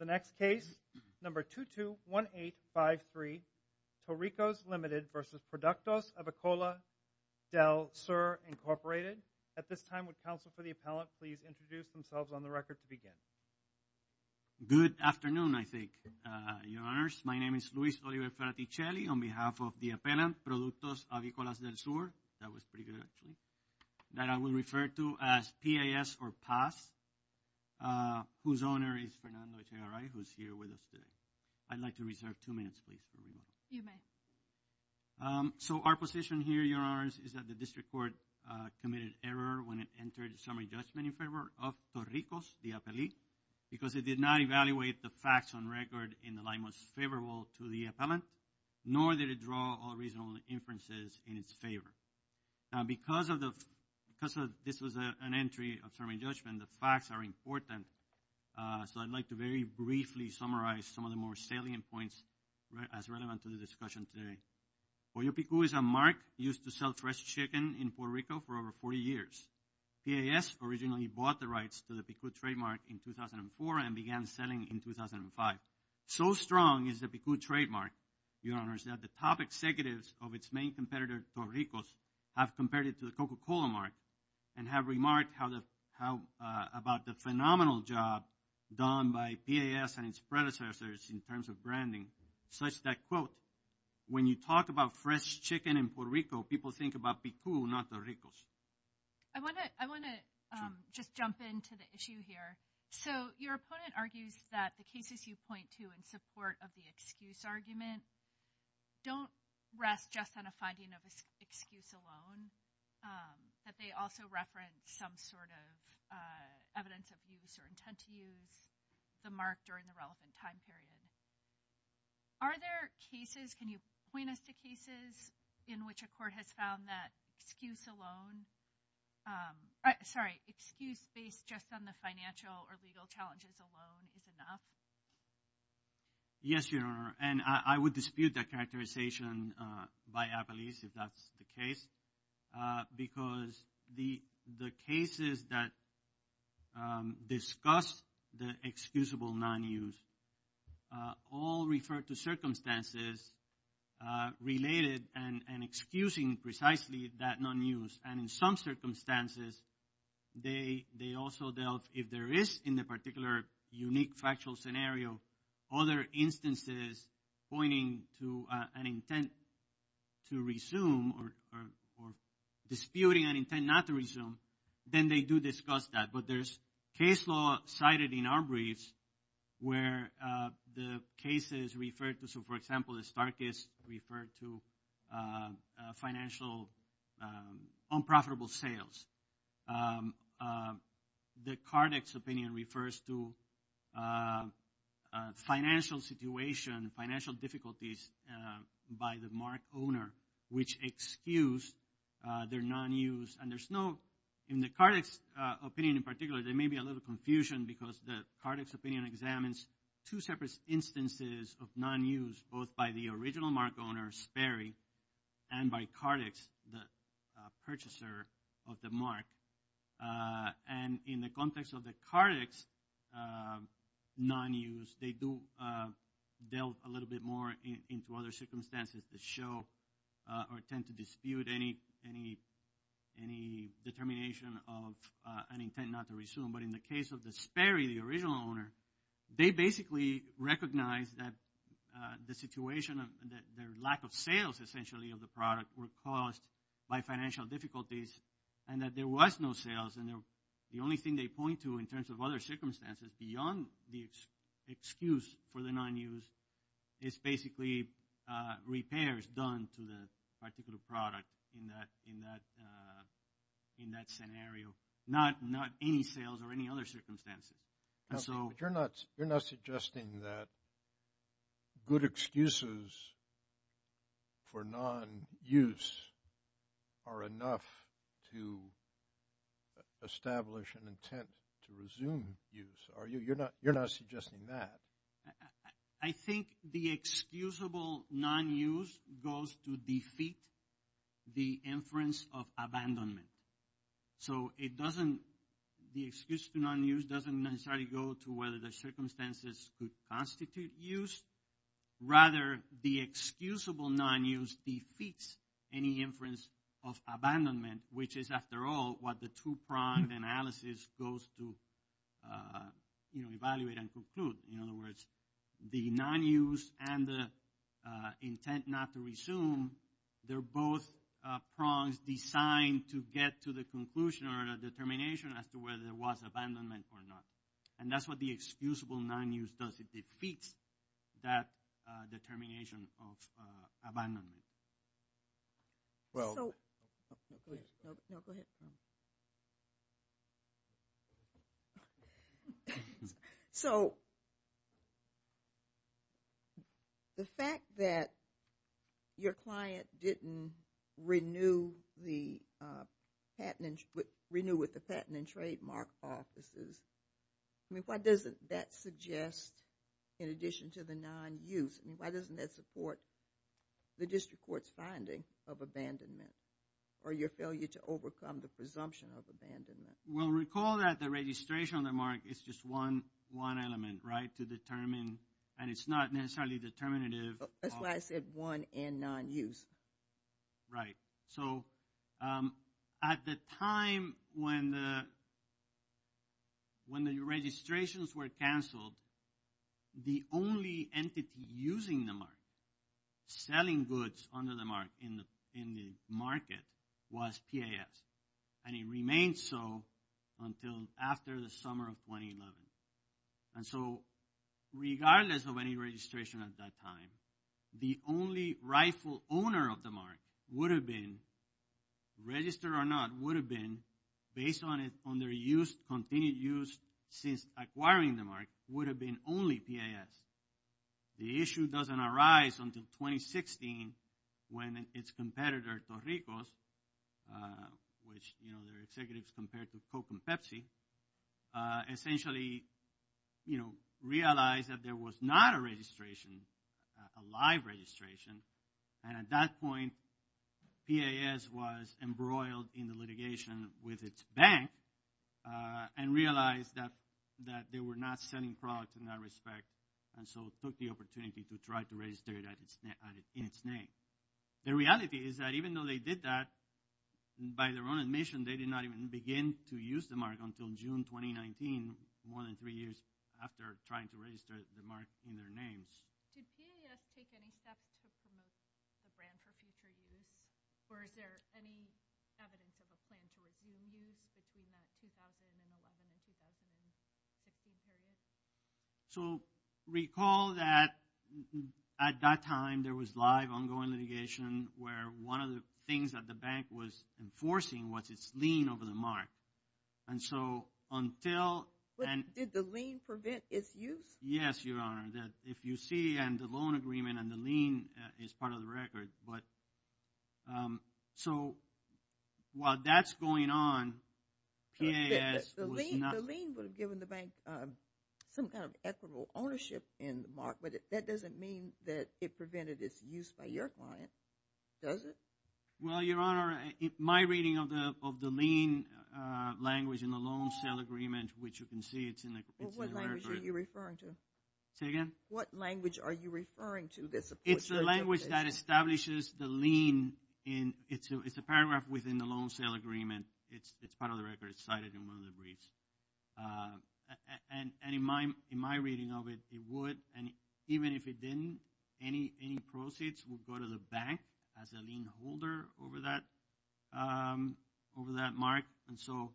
The next case, number 221853, To-Ricos, Ltd. v. Productos Avicolas del Sur, Inc. At this time, would counsel for the appellant please introduce themselves on the record to begin? Good afternoon, I think, your honors. My name is Luis Oliver Ferticelli on behalf of the appellant, Productos Avicolas del Sur. That was pretty good, actually. That I will refer to as P-A-S or PAS, whose owner is Fernando Echeverria, who's here with us today. I'd like to reserve two minutes, please. You may. So, our position here, your honors, is that the district court committed error when it entered summary judgment in favor of To-Ricos, the appellee, because it did not evaluate the facts on record in the light most favorable to the appellant, nor did it draw all reasonable inferences in its favor. Now, because this was an entry of summary judgment, the facts are important, so I'd like to very briefly summarize some of the more salient points as relevant to the discussion today. Pollo Pico is a mark used to sell fresh chicken in Puerto Rico for over 40 years. PAS originally bought the rights to the Pico trademark in 2004 and began selling in 2005. So strong is the Pico trademark, your honors, that the top executives of its main competitor, To-Ricos, have compared it to the Coca-Cola mark and have remarked about the phenomenal job done by PAS and its predecessors in terms of branding, such that, quote, when you talk about fresh chicken in Puerto Rico, people think about Pico, not To-Ricos. I want to just jump into the issue here. So your opponent argues that the cases you point to in support of the excuse argument don't rest just on a finding of an excuse alone, that they also reference some sort of evidence of use or intent to use the mark during the relevant time period. Are there cases, can you point us to cases in which a court has found that excuse alone, sorry, excuse based just on the financial or legal challenges alone is enough? Yes, your honor. And I would dispute that characterization by Apalis, if that's the case, because the cases that discuss the excusable non-use all refer to circumstances related and excusing precisely that non-use. And in some circumstances, they also dealt, if there is in the particular unique factual scenario, other instances pointing to an intent to resume or disputing an intent not to resume, then they do discuss that. But there's case law cited in our briefs where the cases refer to, so for example, the Starkists refer to financial, unprofitable sales. The Kardec's opinion refers to financial situation, financial difficulties by the mark owner which excuse their non-use and there's no, in the Kardec's opinion in particular, there may be a little confusion because the Kardec's opinion examines two separate instances of non-use, both by the original mark owner, Sperry, and by Kardec's, the purchaser of the mark. And in the context of the Kardec's non-use, they do delve a little bit more into other circumstances that show or tend to dispute any determination of an intent not to resume. But in the case of the Sperry, the original owner, they basically recognize that the situation of their lack of sales essentially of the product were caused by financial difficulties and that there was no sales and the only thing they point to in terms of other circumstances beyond the excuse for the non-use is basically repairs done to the particular product in that scenario, not any sales or any other circumstances. You're not suggesting that good excuses for non-use are enough to establish an intent to resume use, are you? You're not suggesting that. I think the excusable non-use goes to defeat the inference of abandonment. So it doesn't, the excuse to non-use doesn't necessarily go to whether the circumstances could constitute use, rather the excusable non-use defeats any inference of abandonment, which is after all what the two-pronged analysis goes to evaluate and conclude. In other words, the non-use and the intent not to resume, they're both prongs designed to get to the conclusion or the determination as to whether there was abandonment or not. And that's what the excusable non-use does, it defeats that determination of abandonment. So, the fact that your client didn't renew with the Patent and Trademark Offices, I mean why doesn't that suggest in addition to the non-use, I mean why doesn't that support the District Court's finding of abandonment or your failure to overcome the presumption of abandonment? Well, recall that the registration on the mark is just one element, right, to determine and it's not necessarily determinative. That's why I said one and non-use. Right. So, at the time when the registrations were canceled, the only entity using the mark, selling goods under the mark in the market, was PAS. And it remained so until after the summer of 2011. And so, regardless of any registration at that time, the only rightful owner of the mark would have been, registered or not, would have been, based on their continued use since acquiring the mark, would have been only PAS. The issue doesn't arise until 2016 when its competitor, Torricos, which, you know, their executives compared to Coke and Pepsi, essentially, you know, realized that there was not a registration, a live registration. And at that point, PAS was embroiled in the litigation with its bank and realized that they were not selling products in that respect and so took the opportunity to try to register it in its name. The reality is that even though they did that, by their own admission, they did not even begin to use the mark until June 2019, more than three years after trying to register the mark in their names. Did PAS take any steps to promote the brand for future use? Or is there any evidence of a plan for a green use between that 2011 and 2016 period? So, recall that at that time, there was live, ongoing litigation where one of the things that the bank was enforcing was its lien over the mark. And so, until... Did the lien prevent its use? Yes, Your Honor. If you see the loan agreement and the lien is part of the record, but... So, while that's going on, PAS was not... The lien would have given the bank some kind of equitable ownership in the mark, but that doesn't mean that it prevented its use by your client, does it? Well, Your Honor, my reading of the lien language in the loan sale agreement, which you can see it's in the record. What language are you referring to? Say again? What language are you referring to that supports your definition? It's the language that establishes the lien. It's a paragraph within the loan sale agreement. It's part of the record. It's cited in one of the briefs. And in my reading of it, it would, and even if it didn't, any proceeds would go to the bank as a lien holder over that mark. And so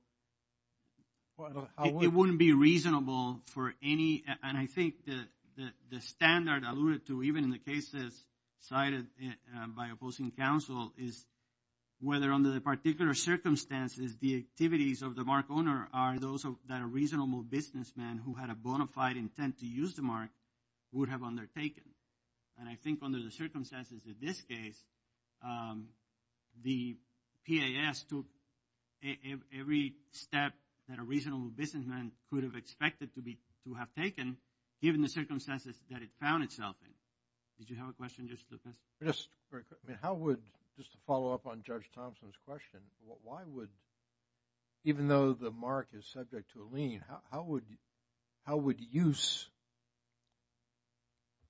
it wouldn't be reasonable for any, and I think that the standard alluded to even in the cases cited by opposing counsel is whether under the particular circumstances the activities of the mark owner are those that a reasonable businessman who had a bona fide intent to use the mark would have undertaken. And I think under the circumstances in this case, the PAS took every step that a reasonable businessman could have expected to have taken, given the circumstances that it found itself in. Did you have a question? Yes, very quickly. How would, just to follow up on Judge Thompson's question, why would, even though the mark is subject to a lien, how would use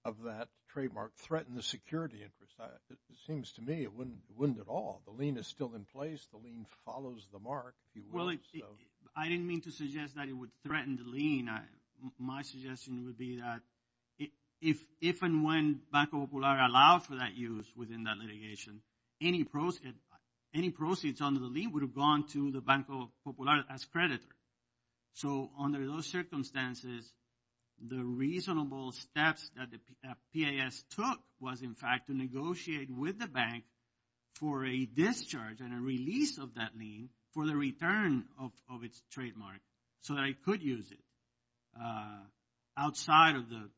of that trademark threaten the security interest? It seems to me it wouldn't at all. The lien is still in place. The lien follows the mark. Well, I didn't mean to suggest that it would threaten the lien. My suggestion would be that if and when Banco Popular allowed for that use within that litigation, any proceeds under the lien would have gone to the Banco Popular as creditor. So under those circumstances, the reasonable steps that the PAS took was, in fact, to negotiate with the bank for a discharge and a release of that lien for the return of its trademark so that it could use it outside of the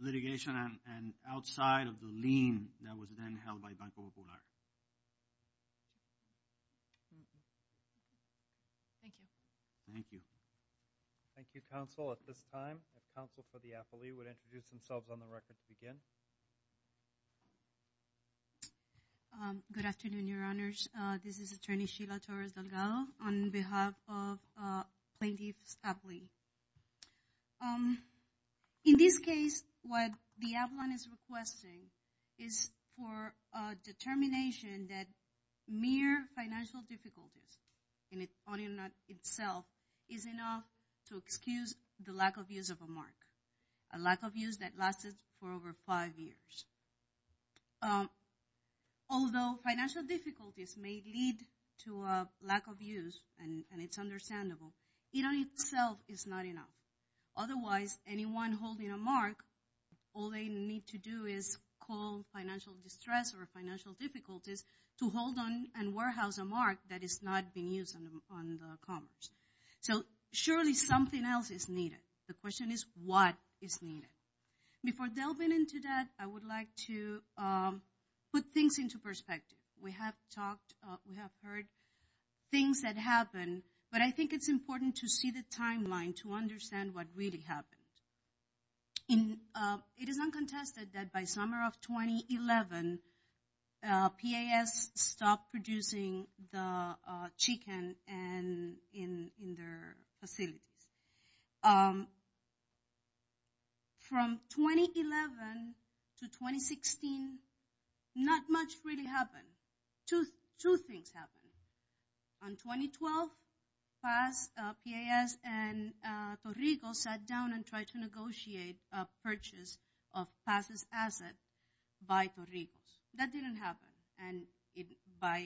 litigation and outside of the lien that was then held by Banco Popular. Thank you. Thank you. Thank you, counsel. At this time, the counsel for the affilee would introduce themselves on the record to begin. Good afternoon, Your Honors. This is Attorney Sheila Torres-Delgado on behalf of Plaintiffs' Affiliate. In this case, what the appellant is requesting is for a determination that mere financial difficulties in itself is enough to excuse the lack of use of a mark, a lack of use that lasted for over five years. Although financial difficulties may lead to a lack of use, and it's understandable, it in itself is not enough. Otherwise, anyone holding a mark, all they need to do is call financial distress or financial difficulties to hold on and warehouse a mark that is not being used on the commerce. So surely something else is needed. The question is what is needed. Before delving into that, I would like to put things into perspective. We have talked, we have heard things that happened, but I think it's important to see the timeline to understand what really happened. It is uncontested that by summer of 2011, PAS stopped producing the chicken in their facilities. From 2011 to 2016, not much really happened. Two things happened. On 2012, PAS and Torrijos sat down and tried to negotiate a purchase of PAS' asset by Torrijos. That didn't happen. And by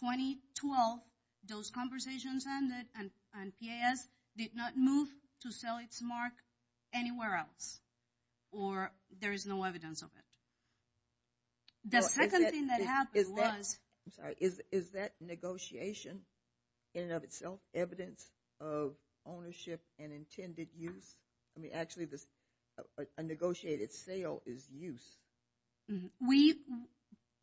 2012, those conversations ended and PAS did not move to sell its mark anywhere else, or there is no evidence of it. The second thing that happened was... Is that negotiation in and of itself evidence of ownership and intended use? Actually, a negotiated sale is use.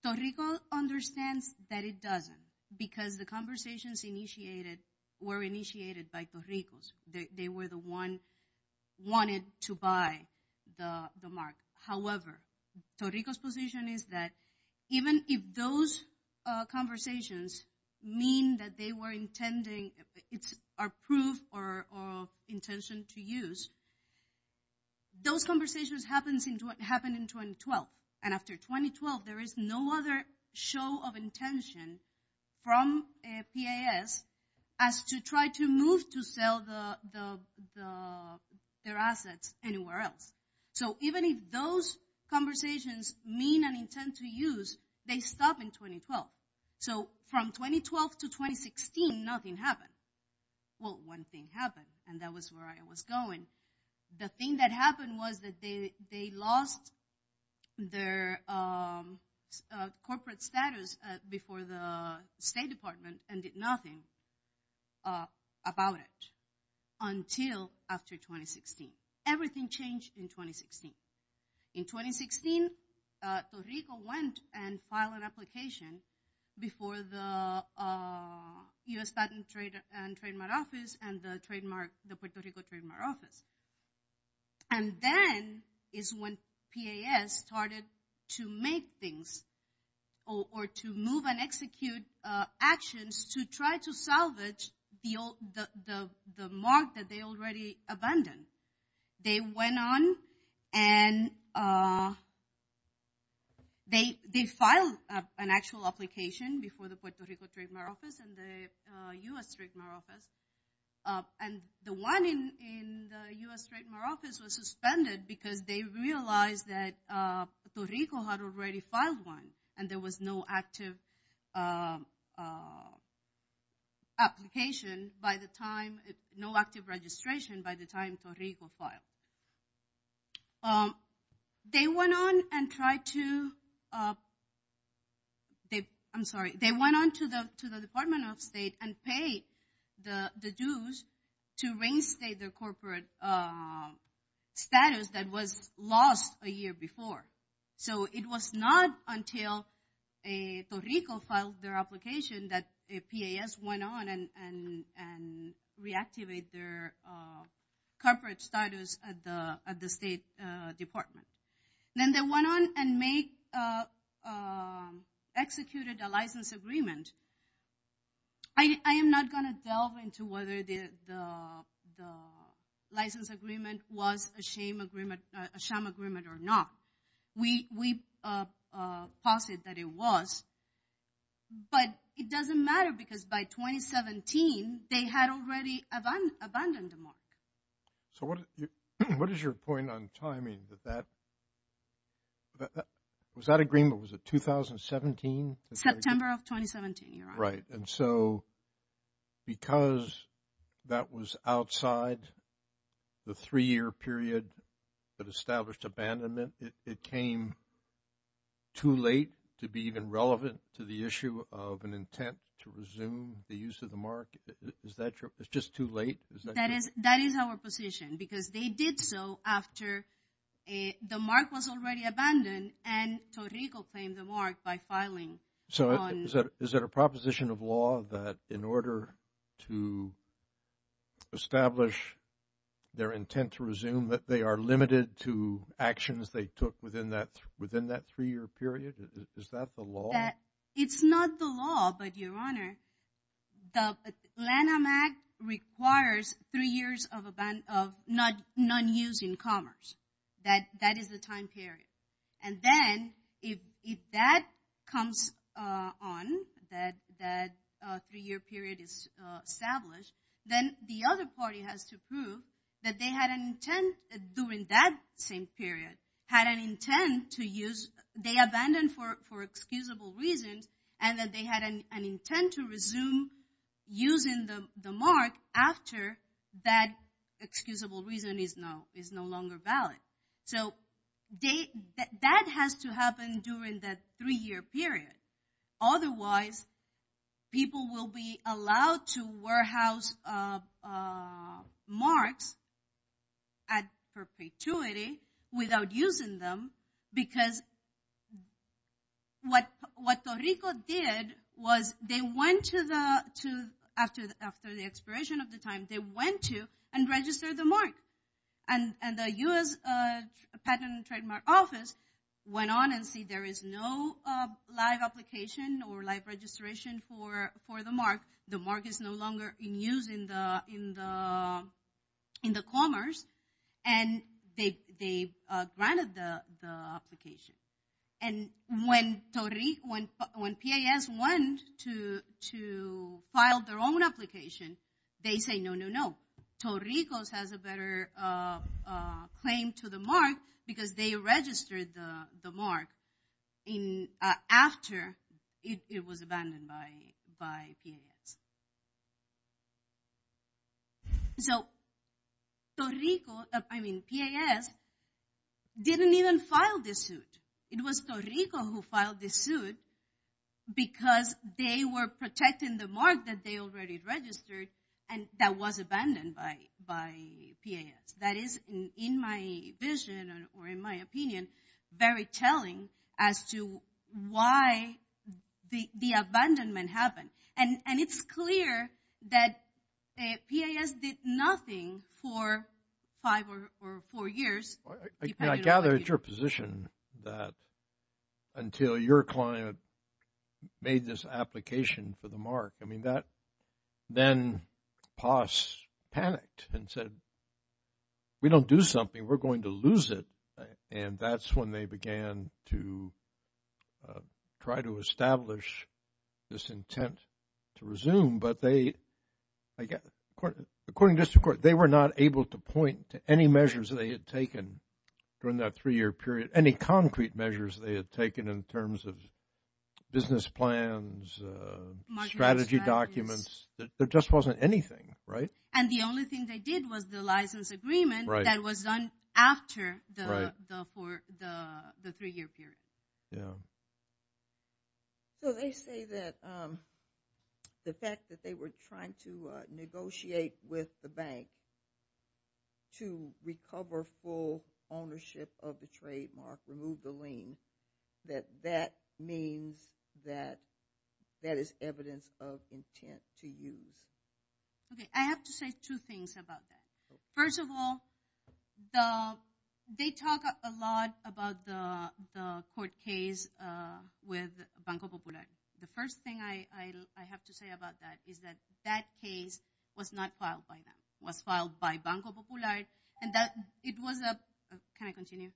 Torrijos understands that it doesn't because the conversations were initiated by Torrijos. They were the ones who wanted to buy the mark. However, Torrijos' position is that even if those conversations mean that they were intended, it's approved or intentioned to use, those conversations happened in 2012. And after 2012, there is no other show of intention from PAS as to try to move to sell their assets anywhere else. So even if those conversations mean an intent to use, they stop in 2012. So from 2012 to 2016, nothing happened. Well, one thing happened, and that was where I was going. The thing that happened was that they lost their corporate status before the State Department and did nothing about it until after 2016. Everything changed in 2016. In 2016, Torrijos went and filed an application before the U.S. Statutory and Trademark Office and the Puerto Rico Trademark Office. And then is when PAS started to make things or to move and execute actions to try to salvage the mark that they already abandoned. They went on and they filed an actual application before the Puerto Rico Trademark Office and the U.S. Trademark Office. And the one in the U.S. Trademark Office was suspended because they realized that no active registration by the time Torrijos filed. They went on to the Department of State and paid the dues to reinstate their corporate status that was lost a year before. So it was not until a Puerto Rico filed their application that PAS went on and reactivated their corporate status at the State Department. Then they went on and executed a license agreement. I am not going to delve into whether the license agreement was a sham agreement or not. We posit that it was. But it doesn't matter because by 2017, they had already abandoned the mark. So what is your point on timing? Was that agreement, was it 2017? September of 2017, Your Honor. Right, and so because that was outside the three-year period that established abandonment, it came too late to be even relevant to the issue of an intent to resume the use of the mark? Is that true? It's just too late? That is our position because they did so after the mark was already abandoned and Torrijos claimed the mark by filing. So is that a proposition of law that in order to establish their intent to resume, that they are limited to actions they took within that three-year period? Is that the law? It's not the law, but Your Honor, the Lanham Act requires three years of non-use in commerce. That is the time period. And then if that comes on, that three-year period is established, then the other party has to prove that they had an intent during that same period, had an intent to use, they abandoned for excusable reasons, and that they had an intent to resume using the mark after that excusable reason is no longer valid. So that has to happen during that three-year period. Otherwise, people will be allowed to warehouse marks at perpetuity without using them because what Torrijos did was they went to, after the expiration of the time, they went to and registered the mark. And the U.S. Patent and Trademark Office went on and said there is no live application or live registration for the mark. The mark is no longer in use in the commerce, and they granted the application. And when PAS went to file their own application, they say no, no, no. Torrijos has a better claim to the mark because they registered the mark after it was abandoned by PAS. So Torrijos, I mean PAS, didn't even file this suit. It was Torrijos who filed this suit because they were protecting the mark that they already registered and that was abandoned by PAS. That is, in my vision or in my opinion, very telling as to why the abandonment happened. And it's clear that PAS did nothing for five or four years. I gather it's your position that until your client made this application for the mark, I mean that then PAS panicked and said we don't do something, we're going to lose it. And that's when they began to try to establish this intent to resume. But they, according to district court, they were not able to point to any measures they had taken during that three-year period, any concrete measures they had taken in terms of business plans, strategy documents, there just wasn't anything, right? And the only thing they did was the license agreement that was done after the three-year period. Yeah. So they say that the fact that they were trying to negotiate with the bank to recover full ownership of the trademark, remove the lien, that that means that that is evidence of intent to use. Okay. I have to say two things about that. First of all, they talk a lot about the court case with Banco Popular. The first thing I have to say about that is that that case was not filed by them. It was filed by Banco Popular. And it was a, can I continue?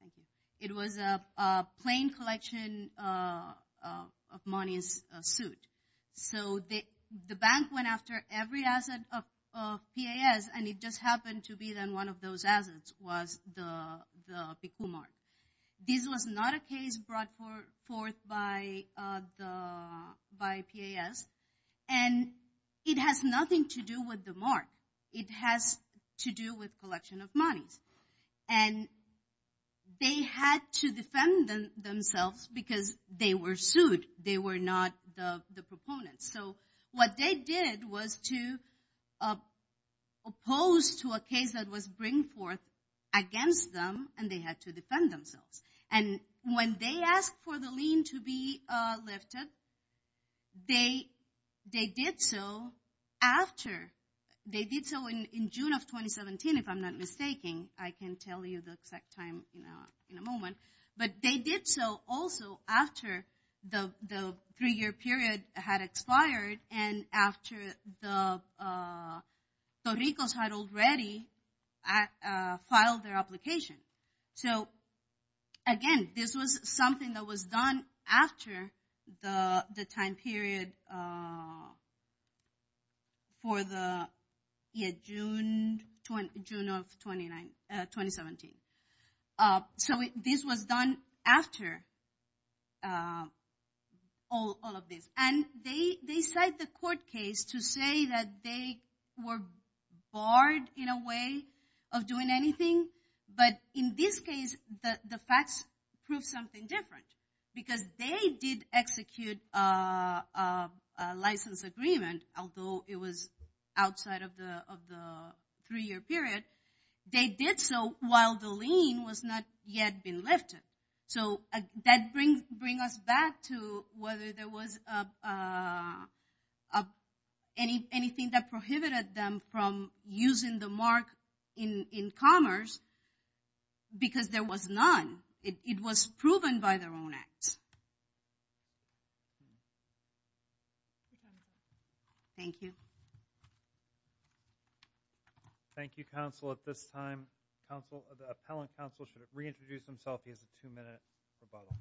Thank you. It was a plain collection of money suit. So the bank went after every asset of PAS, and it just happened to be that one of those assets was the PICU mark. This was not a case brought forth by PAS. And it has nothing to do with the mark. It has to do with collection of monies. And they had to defend themselves because they were sued. They were not the proponents. So what they did was to oppose to a case that was bring forth against them, and they had to defend themselves. And when they asked for the lien to be lifted, they did so after. They did so in June of 2017, if I'm not mistaking. I can tell you the exact time in a moment. But they did so also after the three-year period had expired and after the Torricos had already filed their application. So, again, this was something that was done after the time period for the June of 2017. So this was done after all of this. And they cite the court case to say that they were barred in a way of doing anything. But in this case, the facts prove something different because they did execute a license agreement, although it was outside of the three-year period. They did so while the lien was not yet been lifted. So that brings us back to whether there was anything that prohibited them from using the mark in commerce because there was none. It was proven by their own acts. Thank you. Thank you. Thank you, counsel. At this time, the appellant counsel should reintroduce himself. He has a two-minute rebuttal.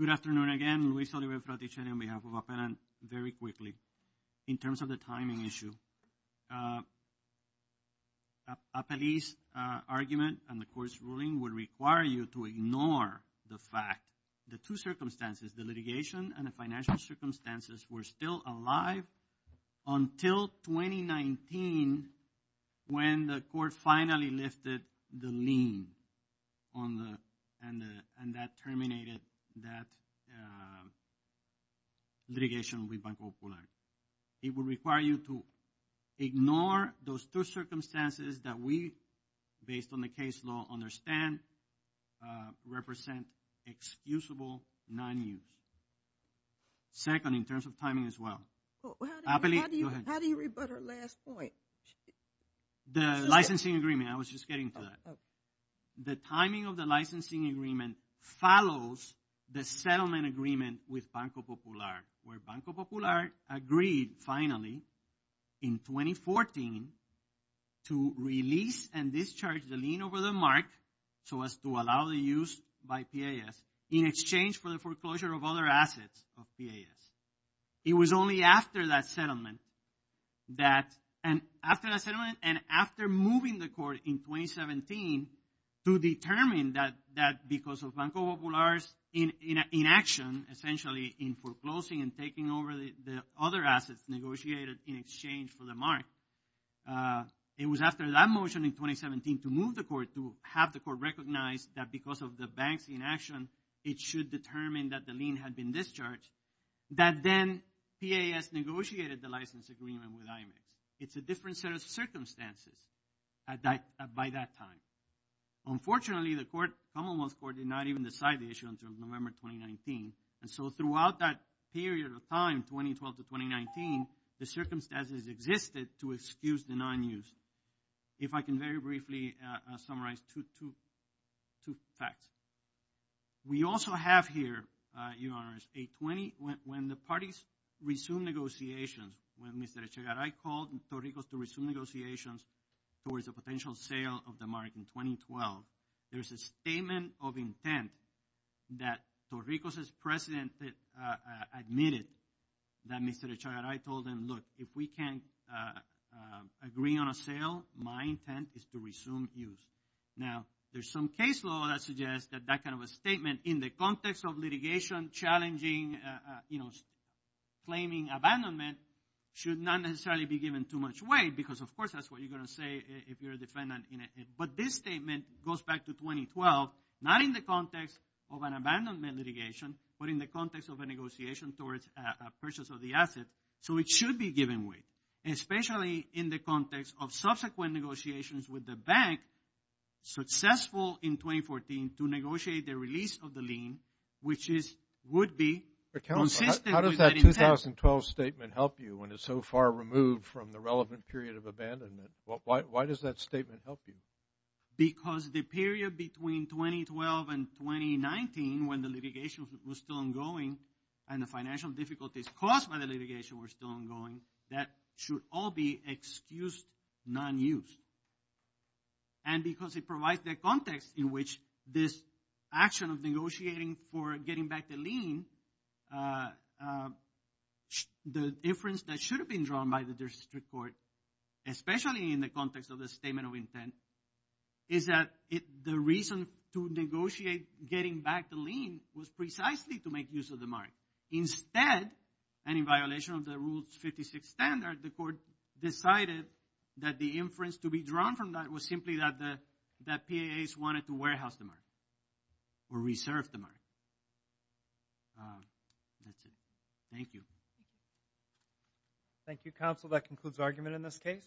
Good afternoon again. Luis Oliveira Fraticeni on behalf of Appellant. Very quickly, in terms of the timing issue, Appellee's argument and the court's ruling would require you to ignore the fact that two circumstances, the litigation and the financial circumstances, were still alive until 2019 when the court finally lifted the lien and that terminated that litigation with Banco Popular. It would require you to ignore those two circumstances that we, based on the case law, understand represent excusable non-use. Second, in terms of timing as well. Appellee, go ahead. How do you rebut her last point? The licensing agreement. I was just getting to that. The timing of the licensing agreement follows the settlement agreement with Banco Popular where Banco Popular agreed finally in 2014 to release and discharge the lien over the mark so as to allow the use by PAS in exchange for the foreclosure of other assets of PAS. It was only after that settlement and after moving the court in 2017 to determine that because of Banco Popular's inaction, essentially in foreclosing and taking over the other assets negotiated in exchange for the mark, it was after that motion in 2017 to move the court, to have the court recognize that because of the bank's inaction, it should determine that the lien had been discharged, that then PAS negotiated the license agreement with IMAX. It's a different set of circumstances by that time. Unfortunately, the Commonwealth Court did not even decide the issue until November 2019. And so throughout that period of time, 2012 to 2019, the circumstances existed to excuse the non-use. If I can very briefly summarize two facts. We also have here, Your Honors, when the parties resumed negotiations, when Mr. Echegaray called Torrijos to resume negotiations towards a potential sale of the mark in 2012, there's a statement of intent that Torrijos' president admitted that Mr. Echegaray told him, look, if we can't agree on a sale, my intent is to resume use. Now, there's some case law that suggests that that kind of a statement in the context of litigation challenging claiming abandonment should not necessarily be given too much weight because, of course, that's what you're going to say if you're a defendant. But this statement goes back to 2012, not in the context of an abandonment litigation, but in the context of a negotiation towards a purchase of the asset. So it should be given weight, especially in the context of subsequent negotiations with the bank successful in 2014 to negotiate the release of the lien, which would be consistent with the intent. How does that 2012 statement help you when it's so far removed from the relevant period of abandonment? Why does that statement help you? Because the period between 2012 and 2019, when the litigation was still ongoing and the financial difficulties caused by the litigation were still ongoing, that should all be excused non-use. And because it provides the context in which this action of negotiating for getting back the lien, the inference that should have been drawn by the district court, especially in the context of the statement of intent, is that the reason to negotiate getting back the lien was precisely to make use of the mark. Instead, and in violation of the Rule 56 standard, the court decided that the inference to be drawn from that was simply that PAAs wanted to warehouse the mark or reserve the mark. That's it. Thank you. Thank you, counsel. That concludes the argument in this case.